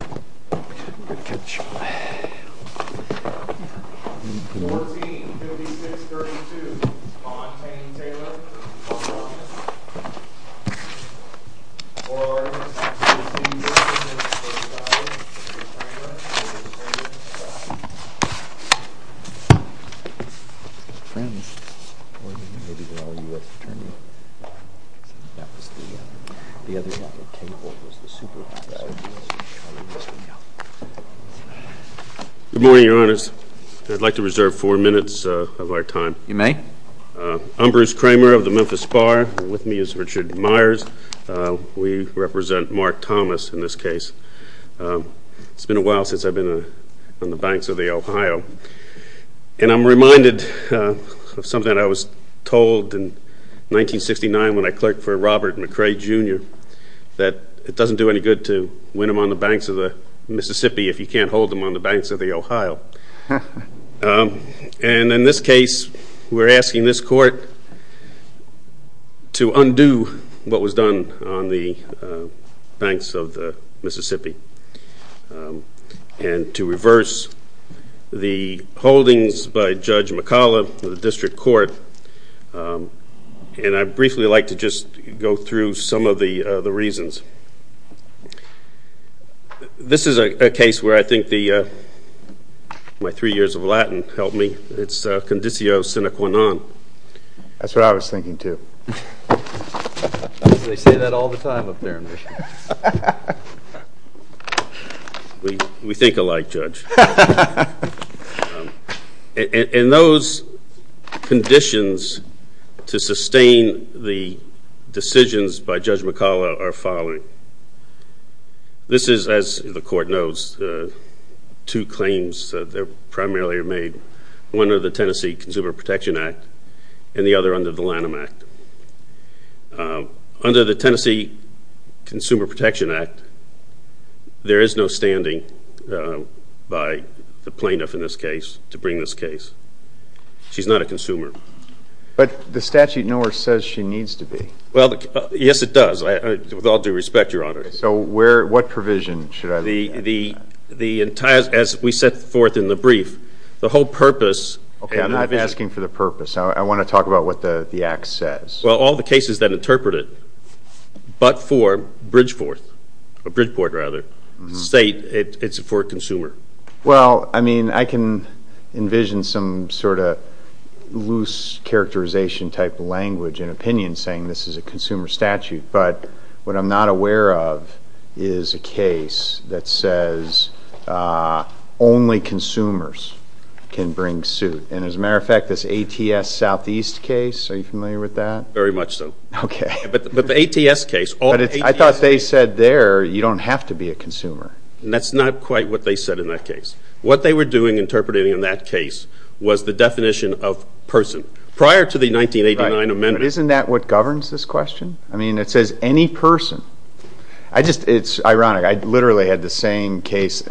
14-56-32 Montaigne Taylor v. Mark Thomas Good morning, your honors. I'd like to reserve four minutes of our time. You may. I'm Bruce Kramer of the Memphis Bar. With me is Richard Myers. We represent Mark Thomas in this case. It's been a while since I've been on the banks of the Ohio. And I'm reminded of something I was told in 1969 when I clerked for Robert McRae, Jr., that it doesn't do any good to win them on the banks of the Mississippi if you can't hold them on the banks of the Ohio. And in this case, we're asking this court to undo what was done on the banks of the Mississippi and to reverse the holdings by Judge McCullough of the district court. And I'd briefly like to just go through some of the reasons. This is a case where I think my three years of Latin helped me. It's conditio sine qua non. That's what I was thinking, too. They say that all the time up there. We think alike, Judge. And those conditions to sustain the decisions by Judge McCullough are following. This is, as the court knows, two claims that primarily are made. One under the Tennessee Consumer Protection Act and the other under the Lanham Act. Under the Tennessee Consumer Protection Act, there is no standing by the plaintiff in this case to bring this case. She's not a consumer. But the statute nowhere says she needs to be. Well, yes, it does, with all due respect, Your Honor. So what provision should I be asking for? As we set forth in the brief, the whole purpose. Okay, I'm not asking for the purpose. I want to talk about what the act says. Well, all the cases that interpret it, but for Bridgeport State, it's for a consumer. Well, I mean, I can envision some sort of loose characterization type language and opinion saying this is a consumer statute. But what I'm not aware of is a case that says only consumers can bring suit. And as a matter of fact, this ATS Southeast case, are you familiar with that? Very much so. Okay. But the ATS case. I thought they said there you don't have to be a consumer. That's not quite what they said in that case. What they were doing interpreting in that case was the definition of person. Prior to the 1989 amendment. Isn't that what governs this question? I mean, it says any person. It's ironic. I literally had the same case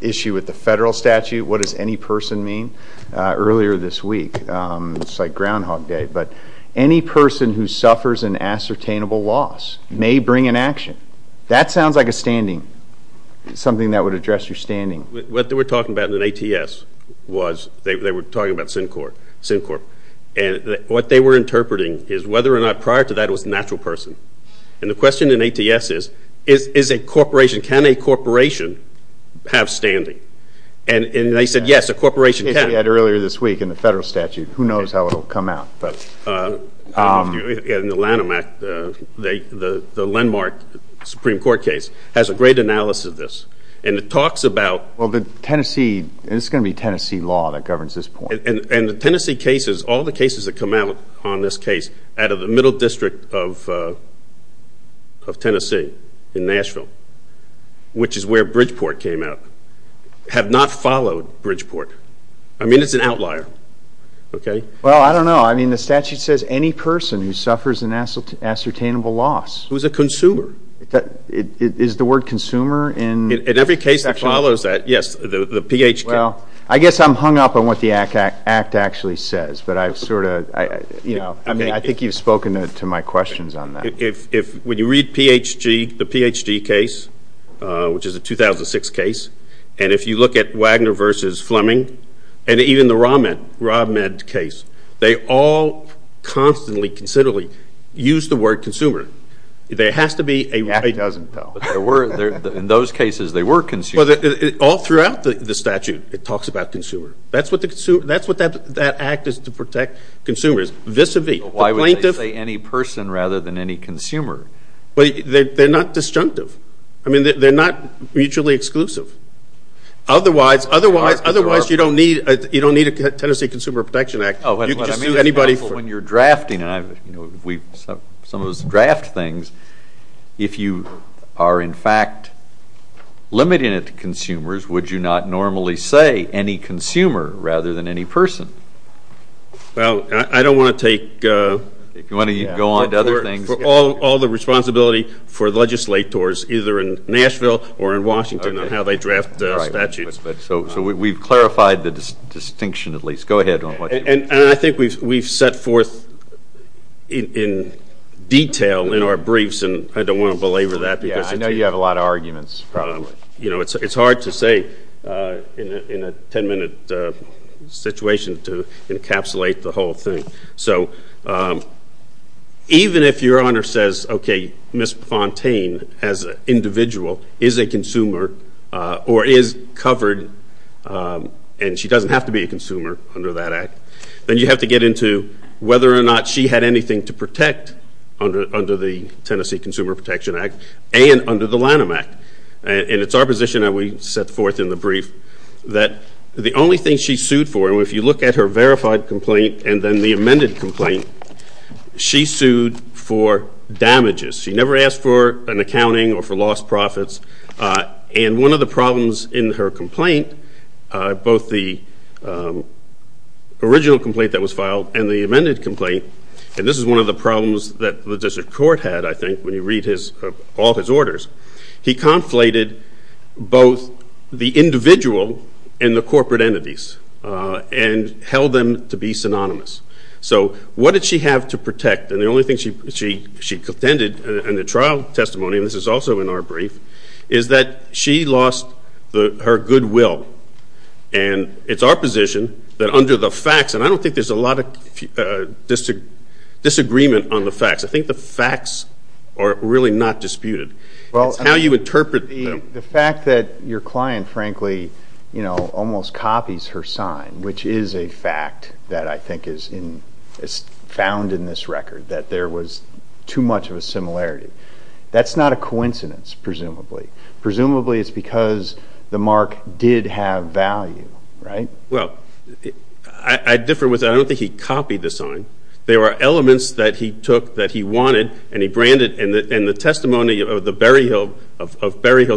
issue with the federal statute. What does any person mean? Earlier this week, it's like Groundhog Day. But any person who suffers an ascertainable loss may bring an action. That sounds like a standing. Something that would address your standing. What they were talking about in the ATS was they were talking about Syncorp. And what they were interpreting is whether or not prior to that it was a natural person. And the question in ATS is, is a corporation, can a corporation have standing? And they said, yes, a corporation can. Earlier this week in the federal statute. Who knows how it will come out. In the Lanham Act, the landmark Supreme Court case has a great analysis of this. And it talks about. Well, the Tennessee. It's going to be Tennessee law that governs this point. And the Tennessee cases, all the cases that come out on this case, out of the middle district of Tennessee in Nashville, which is where Bridgeport came out, have not followed Bridgeport. I mean, it's an outlier. Well, I don't know. I mean, the statute says any person who suffers an ascertainable loss. Who's a consumer. Is the word consumer in? In every case that follows that, yes, the PHK. Well, I guess I'm hung up on what the act actually says. But I sort of, you know, I think you've spoken to my questions on that. When you read PHG, the PHG case, which is a 2006 case, and if you look at Wagner versus Fleming, and even the RobMed case, they all constantly, considerably use the word consumer. There has to be a right. The act doesn't tell. In those cases, they were consumers. All throughout the statute, it talks about consumer. That's what that act is to protect consumers, vis-a-vis. Why would they say any person rather than any consumer? They're not disjunctive. I mean, they're not mutually exclusive. Otherwise, you don't need a Tennessee Consumer Protection Act. You can just sue anybody. When you're drafting, and some of us draft things, if you are, in fact, limiting it to consumers, would you not normally say any consumer rather than any person? Well, I don't want to take all the responsibility for legislators, either in Nashville or in Washington, on how they draft statutes. So we've clarified the distinction, at least. Go ahead. And I think we've set forth in detail in our briefs, and I don't want to belabor that. I know you have a lot of arguments, probably. But, you know, it's hard to say in a 10-minute situation to encapsulate the whole thing. So even if Your Honor says, okay, Ms. Fontaine as an individual is a consumer or is covered, and she doesn't have to be a consumer under that act, then you have to get into whether or not she had anything to protect under the Tennessee Consumer Protection Act and under the Lanham Act. And it's our position that we set forth in the brief that the only thing she sued for, and if you look at her verified complaint and then the amended complaint, she sued for damages. She never asked for an accounting or for lost profits. And one of the problems in her complaint, both the original complaint that was filed and the amended complaint, and this is one of the problems that the district court had, I think, when you read all his orders, he conflated both the individual and the corporate entities and held them to be synonymous. So what did she have to protect? And the only thing she contended in the trial testimony, and this is also in our brief, is that she lost her goodwill. And it's our position that under the facts, and I don't think there's a lot of disagreement on the facts. I think the facts are really not disputed. It's how you interpret them. The fact that your client, frankly, almost copies her sign, which is a fact that I think is found in this record, that there was too much of a similarity, that's not a coincidence, presumably. Presumably it's because the mark did have value, right? Well, I differ with that. I don't think he copied the sign. There are elements that he took that he wanted and he branded, and the testimony of Berryhill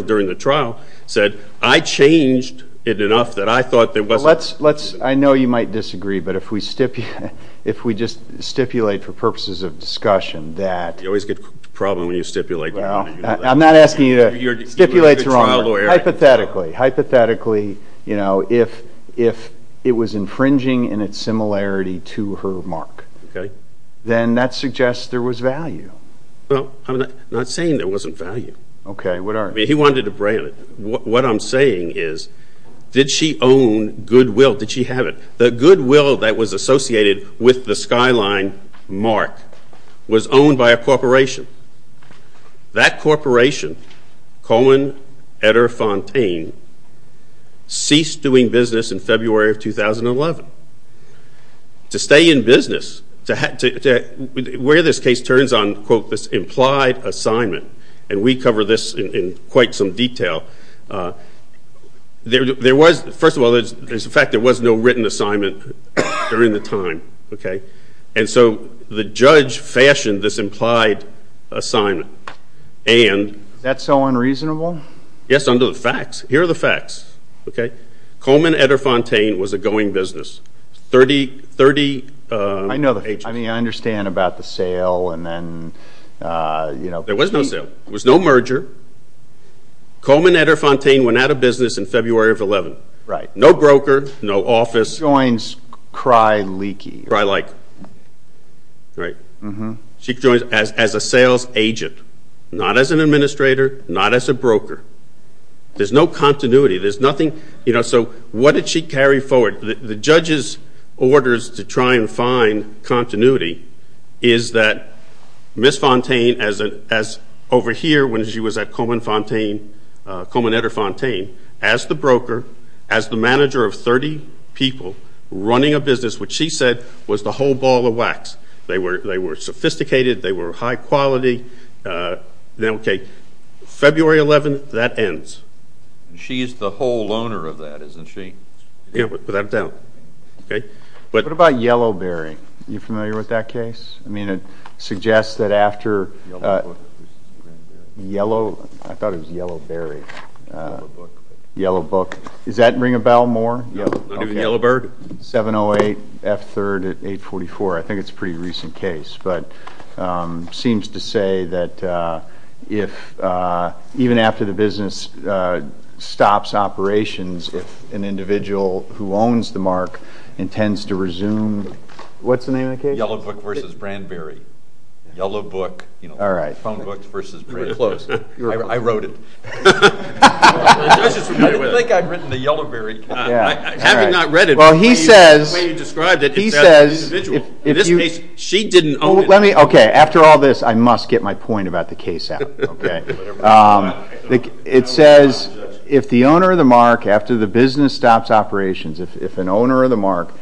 during the trial said, I changed it enough that I thought there wasn't enough. Well, I know you might disagree, but if we just stipulate for purposes of discussion that... You always get a problem when you stipulate. Well, I'm not asking you to stipulate. You're a good trial lawyer. Hypothetically, hypothetically, if it was infringing in its similarity to her mark, then that suggests there was value. Well, I'm not saying there wasn't value. Okay, what are... He wanted to brand it. What I'm saying is, did she own goodwill? Did she have it? The goodwill that was associated with the Skyline mark was owned by a corporation. That corporation, Cohen, Etter, Fontaine, ceased doing business in February of 2011. To stay in business, where this case turns on, quote, this implied assignment, and we cover this in quite some detail, there was, first of all, there's the fact there was no written assignment during the time, okay? And so the judge fashioned this implied assignment, and... Is that so unreasonable? Yes, under the facts. Here are the facts, okay? Cohen, Etter, Fontaine was a going business, 30... I know the... I mean, I understand about the sale, and then, you know... There was no sale. There was no merger. Cohen, Etter, Fontaine went out of business in February of 2011. Right. No broker, no office. She joins cry-leaky. Cry-like, right. She joins as a sales agent, not as an administrator, not as a broker. There's no continuity. There's nothing... You know, so what did she carry forward? The judge's orders to try and find continuity is that Ms. Fontaine, as over here, when she was at Cohen, Etter, Fontaine, as the broker, as the manager of 30 people running a business, what she said was the whole ball of wax. They were sophisticated. They were high quality. Okay, February 11th, that ends. She is the whole owner of that, isn't she? Yeah, without a doubt. Okay? What about Yellowberry? Are you familiar with that case? I mean, it suggests that after Yellow... I thought it was Yellowberry. Yellowbook. Yellowbook. Does that ring a bell more? No, not even Yellowbird? 708 F3rd at 844. I think it's a pretty recent case. But it seems to say that even after the business stops operations, if an individual who owns the mark intends to resume... What's the name of the case? Yellowbook v. Brandberry. Yellowbook. All right. Phonebooks v. Brandberry. You were close. I wrote it. I was just familiar with it. I didn't think I'd written the Yellowberry. Having not read it, the way you described it, it says individual. In this case, she didn't own it. Okay, after all this, I must get my point about the case out. Okay? It says if the owner of the mark, after the business stops operations, if an owner of the mark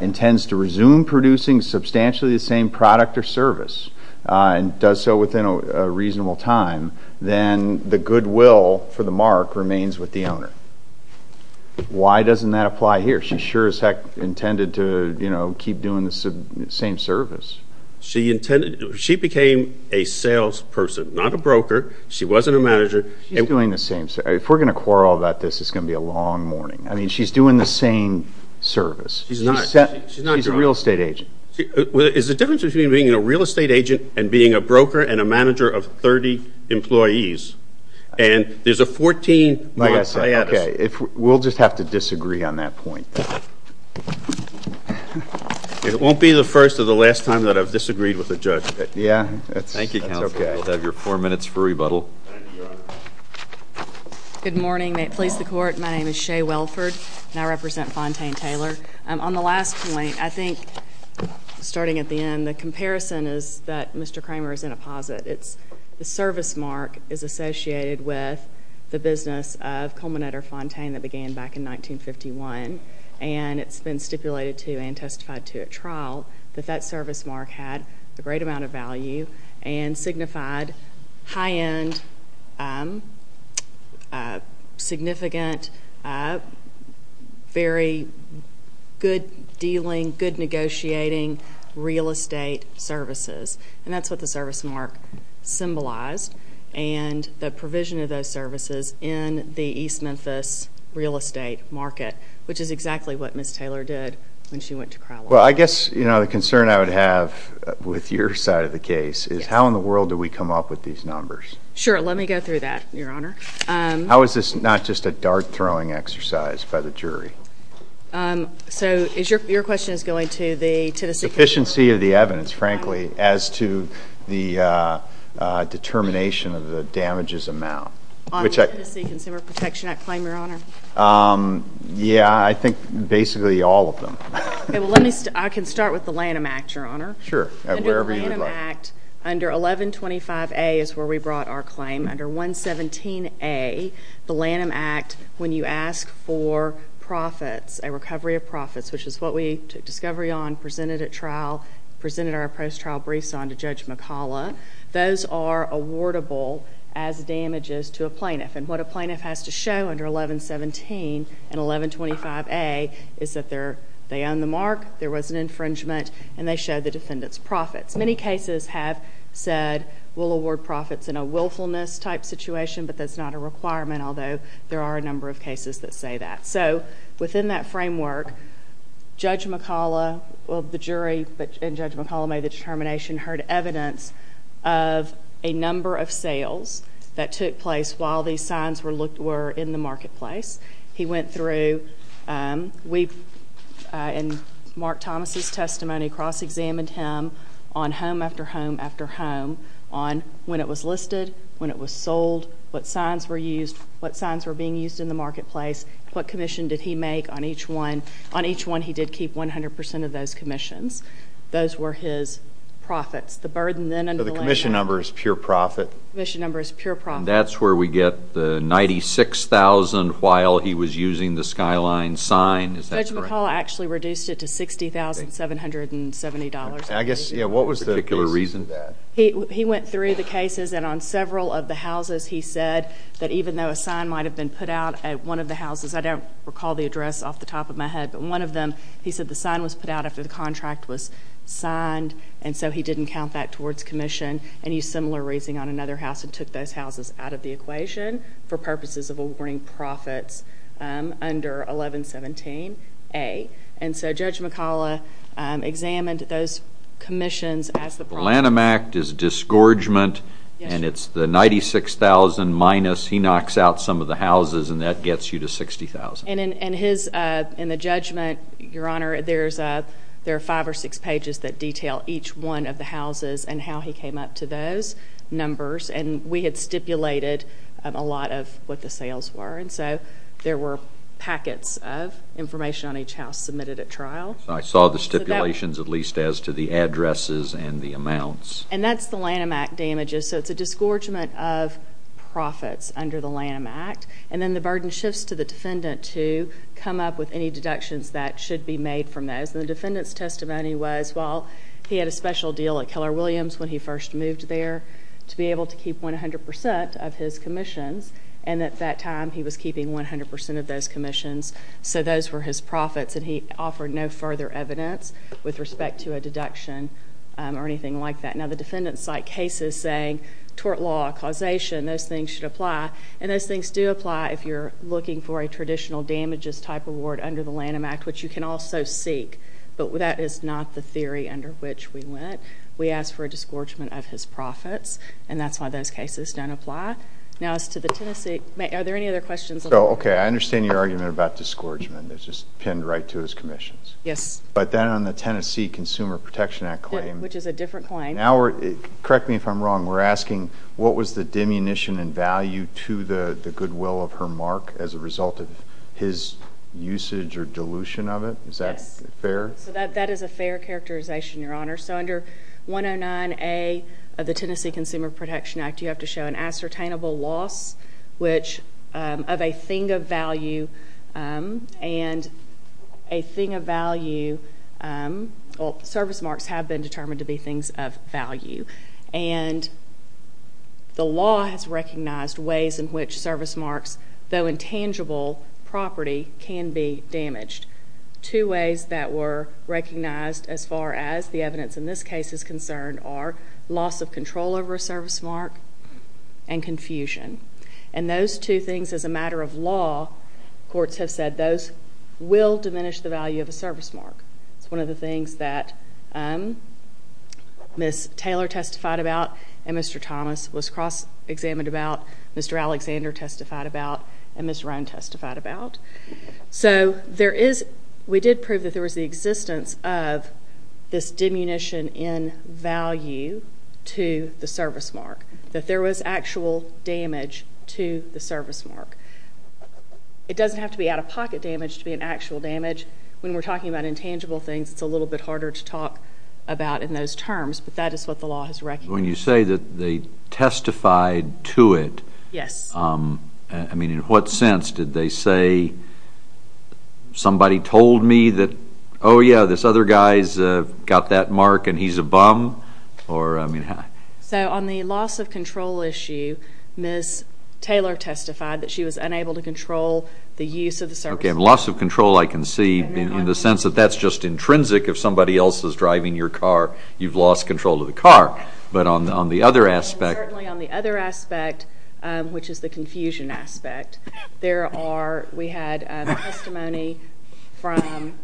intends to resume producing substantially the same product or service and does so within a reasonable time, then the goodwill for the mark remains with the owner. Why doesn't that apply here? She sure as heck intended to keep doing the same service. She became a salesperson, not a broker. She wasn't a manager. She's doing the same. If we're going to quarrel about this, it's going to be a long morning. I mean, she's doing the same service. She's not. She's a real estate agent. Is the difference between being a real estate agent and being a broker and a manager of 30 employees? And there's a 14-month hiatus. We'll just have to disagree on that point. It won't be the first or the last time that I've disagreed with a judge. Yeah, that's okay. Thank you, Counselor. You'll have your four minutes for rebuttal. Good morning. May it please the Court. My name is Shea Welford, and I represent Fontaine-Taylor. On the last point, I think, starting at the end, the comparison is that Mr. Kramer is in a posit. The service mark is associated with the business of Culminator Fontaine that began back in 1951, and it's been stipulated to and testified to at trial that that service mark had a great amount of value and signified high-end, significant, very good-dealing, good-negotiating real estate services. And that's what the service mark symbolized, and the provision of those services in the East Memphis real estate market, which is exactly what Ms. Taylor did when she went to trial. Well, I guess the concern I would have with your side of the case is how in the world do we come up with these numbers? Sure. Let me go through that, Your Honor. How is this not just a dart-throwing exercise by the jury? So your question is going to the Tennessee Consumer Protection Act? The efficiency of the evidence, frankly, as to the determination of the damages amount. On the Tennessee Consumer Protection Act claim, Your Honor? Yeah, I think basically all of them. I can start with the Lanham Act, Your Honor. Sure. Under the Lanham Act, under 1125A is where we brought our claim. Under 117A, the Lanham Act, when you ask for profits, a recovery of profits, which is what we took discovery on, presented at trial, presented our post-trial briefs on to Judge McCalla, those are awardable as damages to a plaintiff. And what a plaintiff has to show under 1117 and 1125A is that they own the mark, there was an infringement, and they show the defendant's profits. Many cases have said we'll award profits in a willfulness-type situation, but that's not a requirement, although there are a number of cases that say that. So within that framework, Judge McCalla, well, the jury, and Judge McCalla made the determination, heard evidence of a number of sales that took place while these signs were in the marketplace. He went through, in Mark Thomas' testimony, cross-examined him on home after home after home, on when it was listed, when it was sold, what signs were used, what signs were being used in the marketplace, what commission did he make on each one. On each one, he did keep 100% of those commissions. Those were his profits. The burden then under the Lanham Act. So the commission number is pure profit? The commission number is pure profit. And that's where we get the $96,000 while he was using the Skyline sign? Is that correct? Judge McCalla actually reduced it to $60,770. I guess, yeah, what was the reason for that? He went through the cases, and on several of the houses, he said that even though a sign might have been put out at one of the houses, I don't recall the address off the top of my head, but one of them, he said the sign was put out after the contract was signed, and so he didn't count that towards commission, and he used similar reasoning on another house and took those houses out of the equation for purposes of awarding profits under 1117A. And so Judge McCalla examined those commissions as the problem. The Lanham Act is disgorgement, and it's the $96,000 minus. He knocks out some of the houses, and that gets you to $60,000. And in the judgment, Your Honor, there are five or six pages that detail each one of the houses and how he came up to those numbers, and we had stipulated a lot of what the sales were, and so there were packets of information on each house submitted at trial. I saw the stipulations at least as to the addresses and the amounts. And that's the Lanham Act damages, so it's a disgorgement of profits under the Lanham Act, and then the burden shifts to the defendant to come up with any deductions that should be made from those. And the defendant's testimony was, well, he had a special deal at Keller Williams when he first moved there to be able to keep 100% of his commissions, and at that time he was keeping 100% of those commissions, so those were his profits, and he offered no further evidence with respect to a deduction or anything like that. Now, the defendant cite cases saying tort law, causation, those things should apply, and those things do apply if you're looking for a traditional damages-type award under the Lanham Act, which you can also seek, but that is not the theory under which we went. We asked for a disgorgement of his profits, and that's why those cases don't apply. Now, as to the Tennessee—are there any other questions? Okay, I understand your argument about disgorgement. It's just pinned right to his commissions. Yes. But then on the Tennessee Consumer Protection Act claim— Which is a different claim. Correct me if I'm wrong. We're asking what was the diminution in value to the goodwill of her mark as a result of his usage or dilution of it? Yes. Is that fair? That is a fair characterization, Your Honor. So under 109A of the Tennessee Consumer Protection Act, you have to show an ascertainable loss of a thing of value, and a thing of value— well, service marks have been determined to be things of value, and the law has recognized ways in which service marks, though intangible property, can be damaged. Two ways that were recognized as far as the evidence in this case is concerned are loss of control over a service mark and confusion. And those two things, as a matter of law, courts have said, those will diminish the value of a service mark. It's one of the things that Ms. Taylor testified about and Mr. Thomas was cross-examined about. Mr. Alexander testified about and Ms. Rohn testified about. So we did prove that there was the existence of this diminution in value to the service mark, that there was actual damage to the service mark. It doesn't have to be out-of-pocket damage to be an actual damage. When we're talking about intangible things, it's a little bit harder to talk about in those terms, but that is what the law has recognized. When you say that they testified to it, I mean, in what sense did they say, somebody told me that, oh, yeah, this other guy's got that mark and he's a bum? So on the loss of control issue, Ms. Taylor testified that she was unable to control the use of the service mark. Okay, loss of control I can see in the sense that that's just intrinsic. If somebody else is driving your car, you've lost control of the car. But on the other aspect. Certainly on the other aspect, which is the confusion aspect, we had testimony from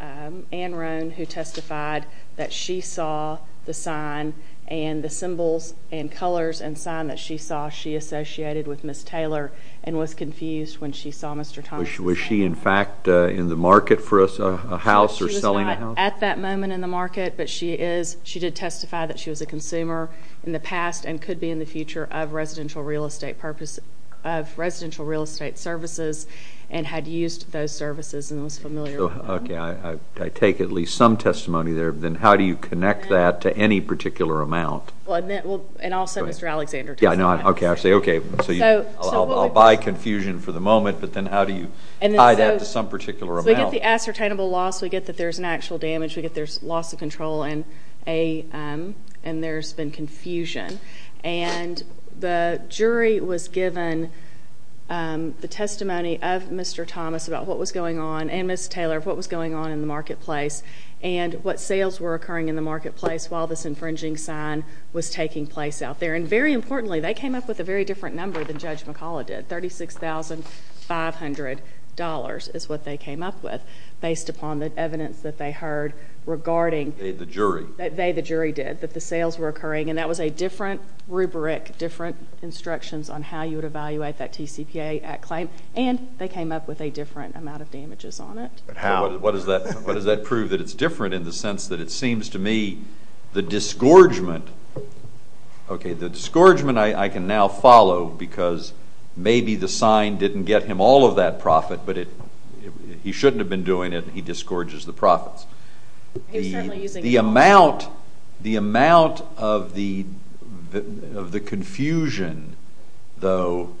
Anne Rohn who testified that she saw the sign and the symbols and colors and sign that she saw she associated with Ms. Taylor and was confused when she saw Mr. Thomas. Was she, in fact, in the market for a house or selling a house? At that moment in the market, but she did testify that she was a consumer in the past and could be in the future of residential real estate services and had used those services and was familiar with them. Okay, I take at least some testimony there. Then how do you connect that to any particular amount? And also Mr. Alexander testified. Okay, I'll buy confusion for the moment, but then how do you tie that to some particular amount? We get the ascertainable loss. We get that there's an actual damage. We get there's loss of control and there's been confusion. And the jury was given the testimony of Mr. Thomas about what was going on and Ms. Taylor of what was going on in the marketplace and what sales were occurring in the marketplace while this infringing sign was taking place out there. And very importantly, they came up with a very different number than Judge McCullough did, $36,500 is what they came up with based upon the evidence that they heard regarding. They, the jury. They, the jury did, that the sales were occurring. And that was a different rubric, different instructions on how you would evaluate that TCPA Act claim. And they came up with a different amount of damages on it. How? What does that prove that it's different in the sense that it seems to me the disgorgement, Okay, the disgorgement I can now follow because maybe the sign didn't get him all of that profit, but he shouldn't have been doing it and he disgorges the profits. The amount, the amount of the confusion though,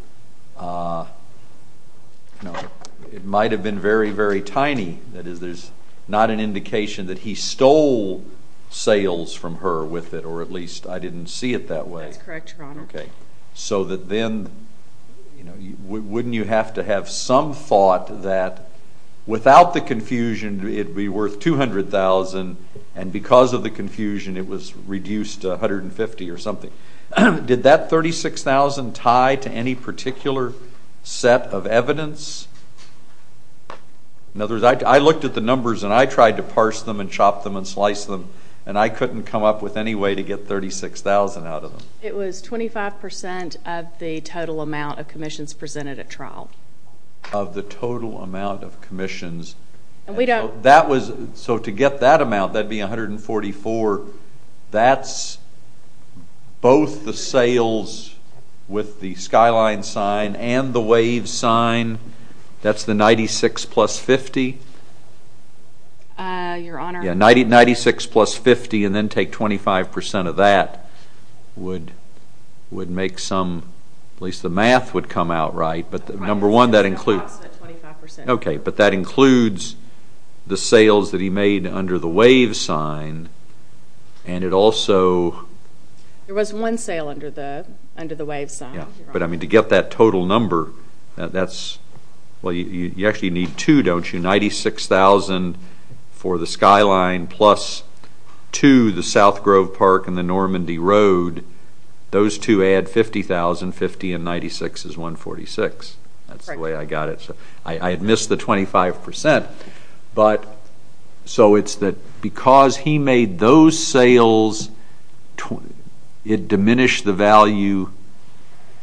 it might have been very, very tiny. That is there's not an indication that he stole sales from her with it or at least I didn't see it that way. That's correct, Your Honor. Okay, so that then wouldn't you have to have some thought that without the confusion it would be worth $200,000 and because of the confusion it was reduced to $150,000 or something. Did that $36,000 tie to any particular set of evidence? In other words, I looked at the numbers and I tried to parse them and chop them and slice them and I couldn't come up with any way to get $36,000 out of them. It was 25% of the total amount of commissions presented at trial. Of the total amount of commissions. And we don't That was, so to get that amount that would be $144,000. That's both the sales with the skyline sign and the wave sign. That's the $96,000 plus $50,000. Your Honor. $96,000 plus $50,000 and then take 25% of that would make some, at least the math would come out right, but number one that includes Okay, but that includes the sales that he made under the wave sign and it also There was one sale under the wave sign. But I mean to get that total number, that's, well you actually need two, don't you? $96,000 for the skyline plus two, the South Grove Park and the Normandy Road, those two add $50,000. $50,000 and $96,000 is $146,000. That's the way I got it. I had missed the 25%. But, so it's that because he made those sales, it diminished the value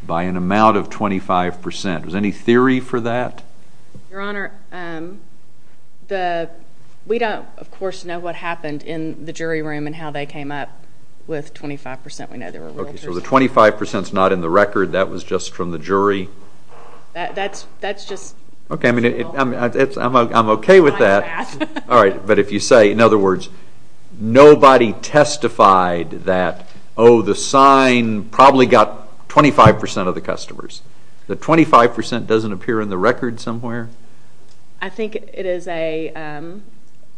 by an amount of 25%. Was there any theory for that? Your Honor, we don't, of course, know what happened in the jury room and how they came up with 25%. Okay, so the 25% is not in the record. That was just from the jury. That's just Okay, I'm okay with that. Alright, but if you say, in other words, nobody testified that, oh, the sign probably got 25% of the customers. The 25% doesn't appear in the record somewhere? I think it is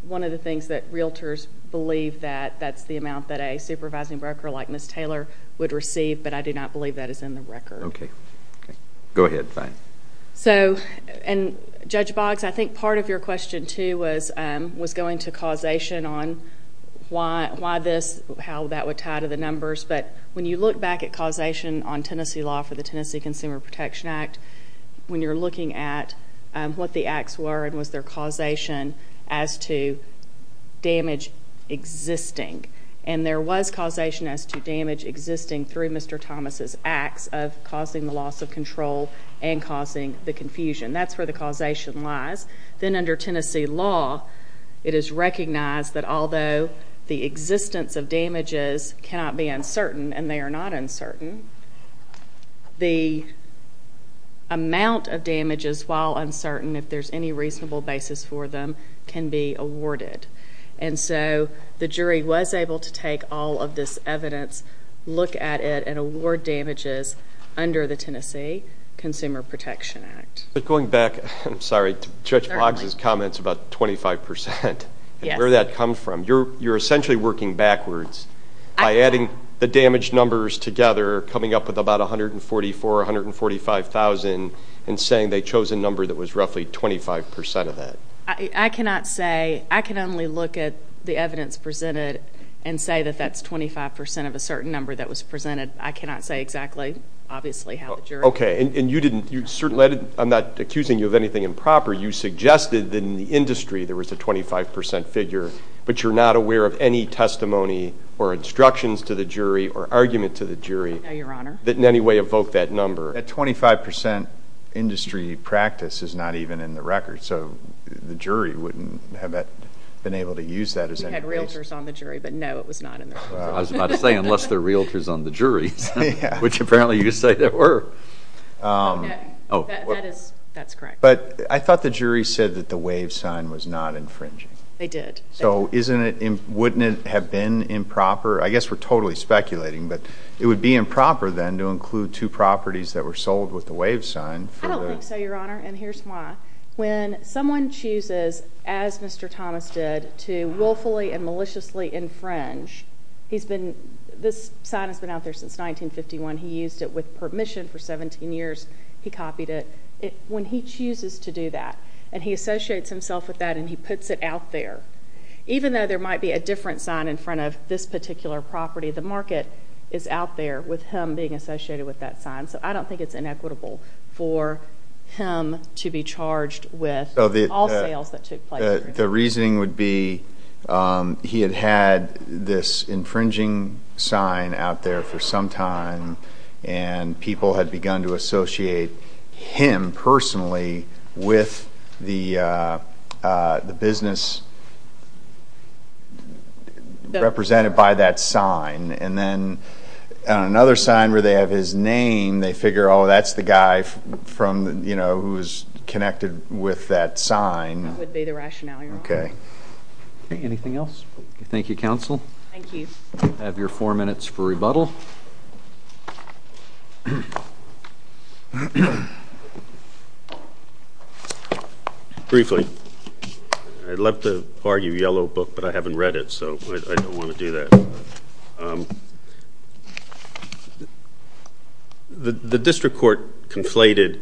one of the things that realtors believe that that's the amount that a supervising broker like Ms. Taylor would receive, but I do not believe that is in the record. Okay. Go ahead. So, and Judge Boggs, I think part of your question, too, was going to causation on why this, how that would tie to the numbers. But when you look back at causation on Tennessee law for the Tennessee Consumer Protection Act, when you're looking at what the acts were and was there causation as to damage existing, and there was causation as to damage existing through Mr. Thomas' acts of causing the loss of control and causing the confusion. That's where the causation lies. Then under Tennessee law, it is recognized that although the existence of damages cannot be uncertain, and they are not uncertain, the amount of damages, while uncertain, if there's any reasonable basis for them, can be awarded. And so the jury was able to take all of this evidence, look at it, and award damages under the Tennessee Consumer Protection Act. But going back, I'm sorry, to Judge Boggs' comments about 25 percent and where that comes from, you're essentially working backwards by adding the damaged numbers together, coming up with about 144,000, 145,000, and saying they chose a number that was roughly 25 percent of that. I cannot say. I can only look at the evidence presented and say that that's 25 percent of a certain number that was presented. Okay, and you didn't, I'm not accusing you of anything improper. You suggested that in the industry there was a 25 percent figure, but you're not aware of any testimony or instructions to the jury or argument to the jury that in any way evoke that number. That 25 percent industry practice is not even in the record, so the jury wouldn't have been able to use that as any reason. We had realtors on the jury, but no, it was not in the record. I was about to say, unless they're realtors on the jury, which apparently you say they were. That's correct. But I thought the jury said that the wave sign was not infringing. They did. So wouldn't it have been improper? I guess we're totally speculating, but it would be improper then to include two properties that were sold with the wave sign. I don't think so, Your Honor, and here's why. When someone chooses, as Mr. Thomas did, to willfully and maliciously infringe, this sign has been out there since 1951. He used it with permission for 17 years. He copied it. When he chooses to do that and he associates himself with that and he puts it out there, even though there might be a different sign in front of this particular property, the market is out there with him being associated with that sign. So I don't think it's inequitable for him to be charged with all sales that took place. The reasoning would be he had had this infringing sign out there for some time and people had begun to associate him personally with the business represented by that sign. And then another sign where they have his name, they figure, oh, that's the guy who's connected with that sign. That would be the rationale, Your Honor. Okay. Anything else? Thank you, Counsel. Thank you. I have your four minutes for rebuttal. Briefly. I'd love to argue Yellow Book, but I haven't read it, so I don't want to do that. The district court conflated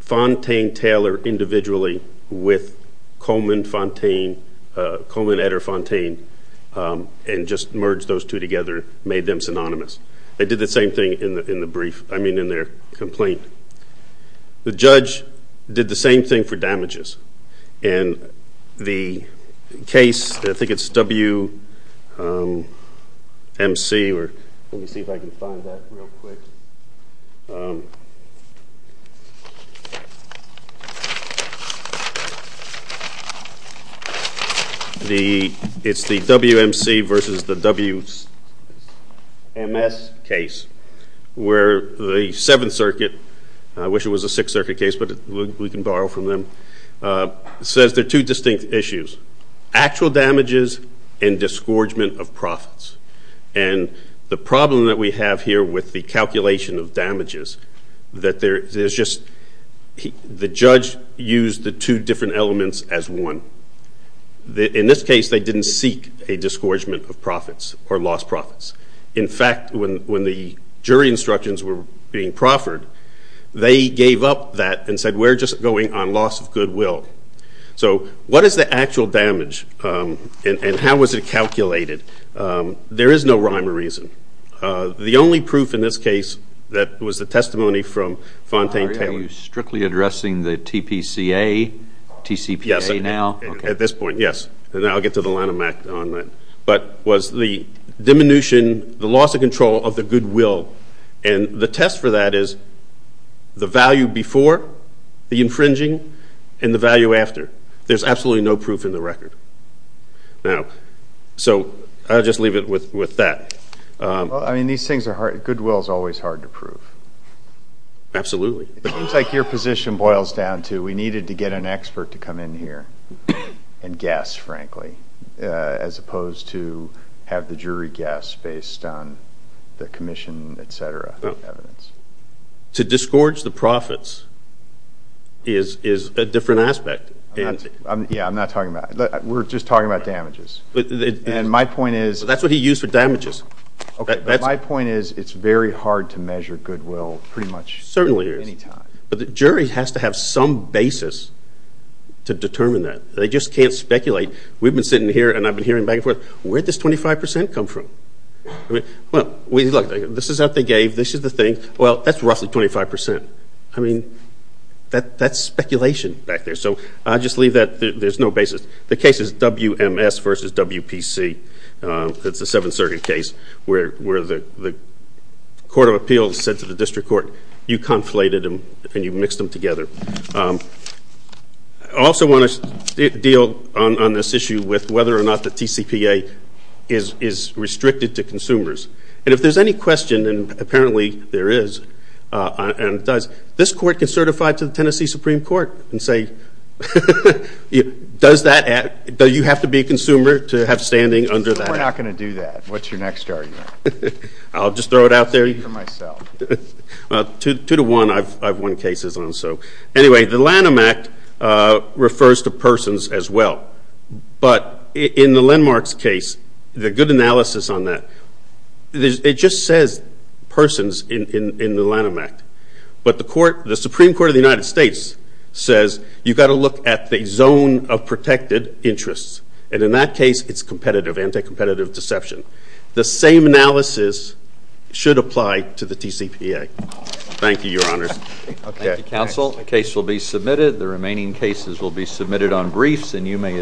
Fontaine Taylor individually with Coleman Eder Fontaine and just merged those two together, made them synonymous. They did the same thing in their complaint. The judge did the same thing for damages. And the case, I think it's WMC. Let me see if I can find that real quick. It's the WMC versus the WMS case where the Seventh Circuit, I wish it was a Sixth Circuit case, but we can borrow from them, says there are two distinct issues, actual damages and disgorgement of profits. And the problem that we have here with the calculation of damages is that the judge used the two different elements as one. In this case, they didn't seek a disgorgement of profits or lost profits. In fact, when the jury instructions were being proffered, they gave up that and said, we're just going on loss of goodwill. So what is the actual damage and how was it calculated? There is no rhyme or reason. The only proof in this case that was the testimony from Fontaine Taylor. Are you strictly addressing the TPCA, TCPA now? Yes, at this point, yes. And I'll get to the Lanham Act on that. But was the diminution, the loss of control of the goodwill, and the test for that is the value before, the infringing, and the value after. There's absolutely no proof in the record. So I'll just leave it with that. I mean, these things are hard. Goodwill is always hard to prove. Absolutely. It seems like your position boils down to we needed to get an expert to come in here and guess, frankly, as opposed to have the jury guess based on the commission, et cetera, evidence. To disgorge the profits is a different aspect. Yeah, I'm not talking about that. We're just talking about damages. And my point is – That's what he used for damages. Okay, but my point is it's very hard to measure goodwill pretty much anytime. Certainly it is. But the jury has to have some basis to determine that. They just can't speculate. We've been sitting here, and I've been hearing back and forth, where did this 25% come from? Look, this is what they gave. This is the thing. Well, that's roughly 25%. I mean, that's speculation back there. So I'll just leave that. There's no basis. The case is WMS versus WPC. It's a seven-circuit case where the court of appeals said to the district court, you conflated them and you mixed them together. I also want to deal on this issue with whether or not the TCPA is restricted to consumers. And if there's any question, and apparently there is, and it does, this court can certify to the Tennessee Supreme Court and say, does you have to be a consumer to have standing under that? We're not going to do that. What's your next argument? I'll just throw it out there. I'll do it for myself. Two to one, I've won cases on so. Anyway, the Lanham Act refers to persons as well. But in the Landmarks case, the good analysis on that, it just says persons in the Lanham Act. But the Supreme Court of the United States says you've got to look at the zone of protected interests. And in that case, it's competitive, anti-competitive deception. The same analysis should apply to the TCPA. Thank you, Your Honors. Thank you, Counsel. The case will be submitted. The remaining cases will be submitted on briefs, and you may adjourn.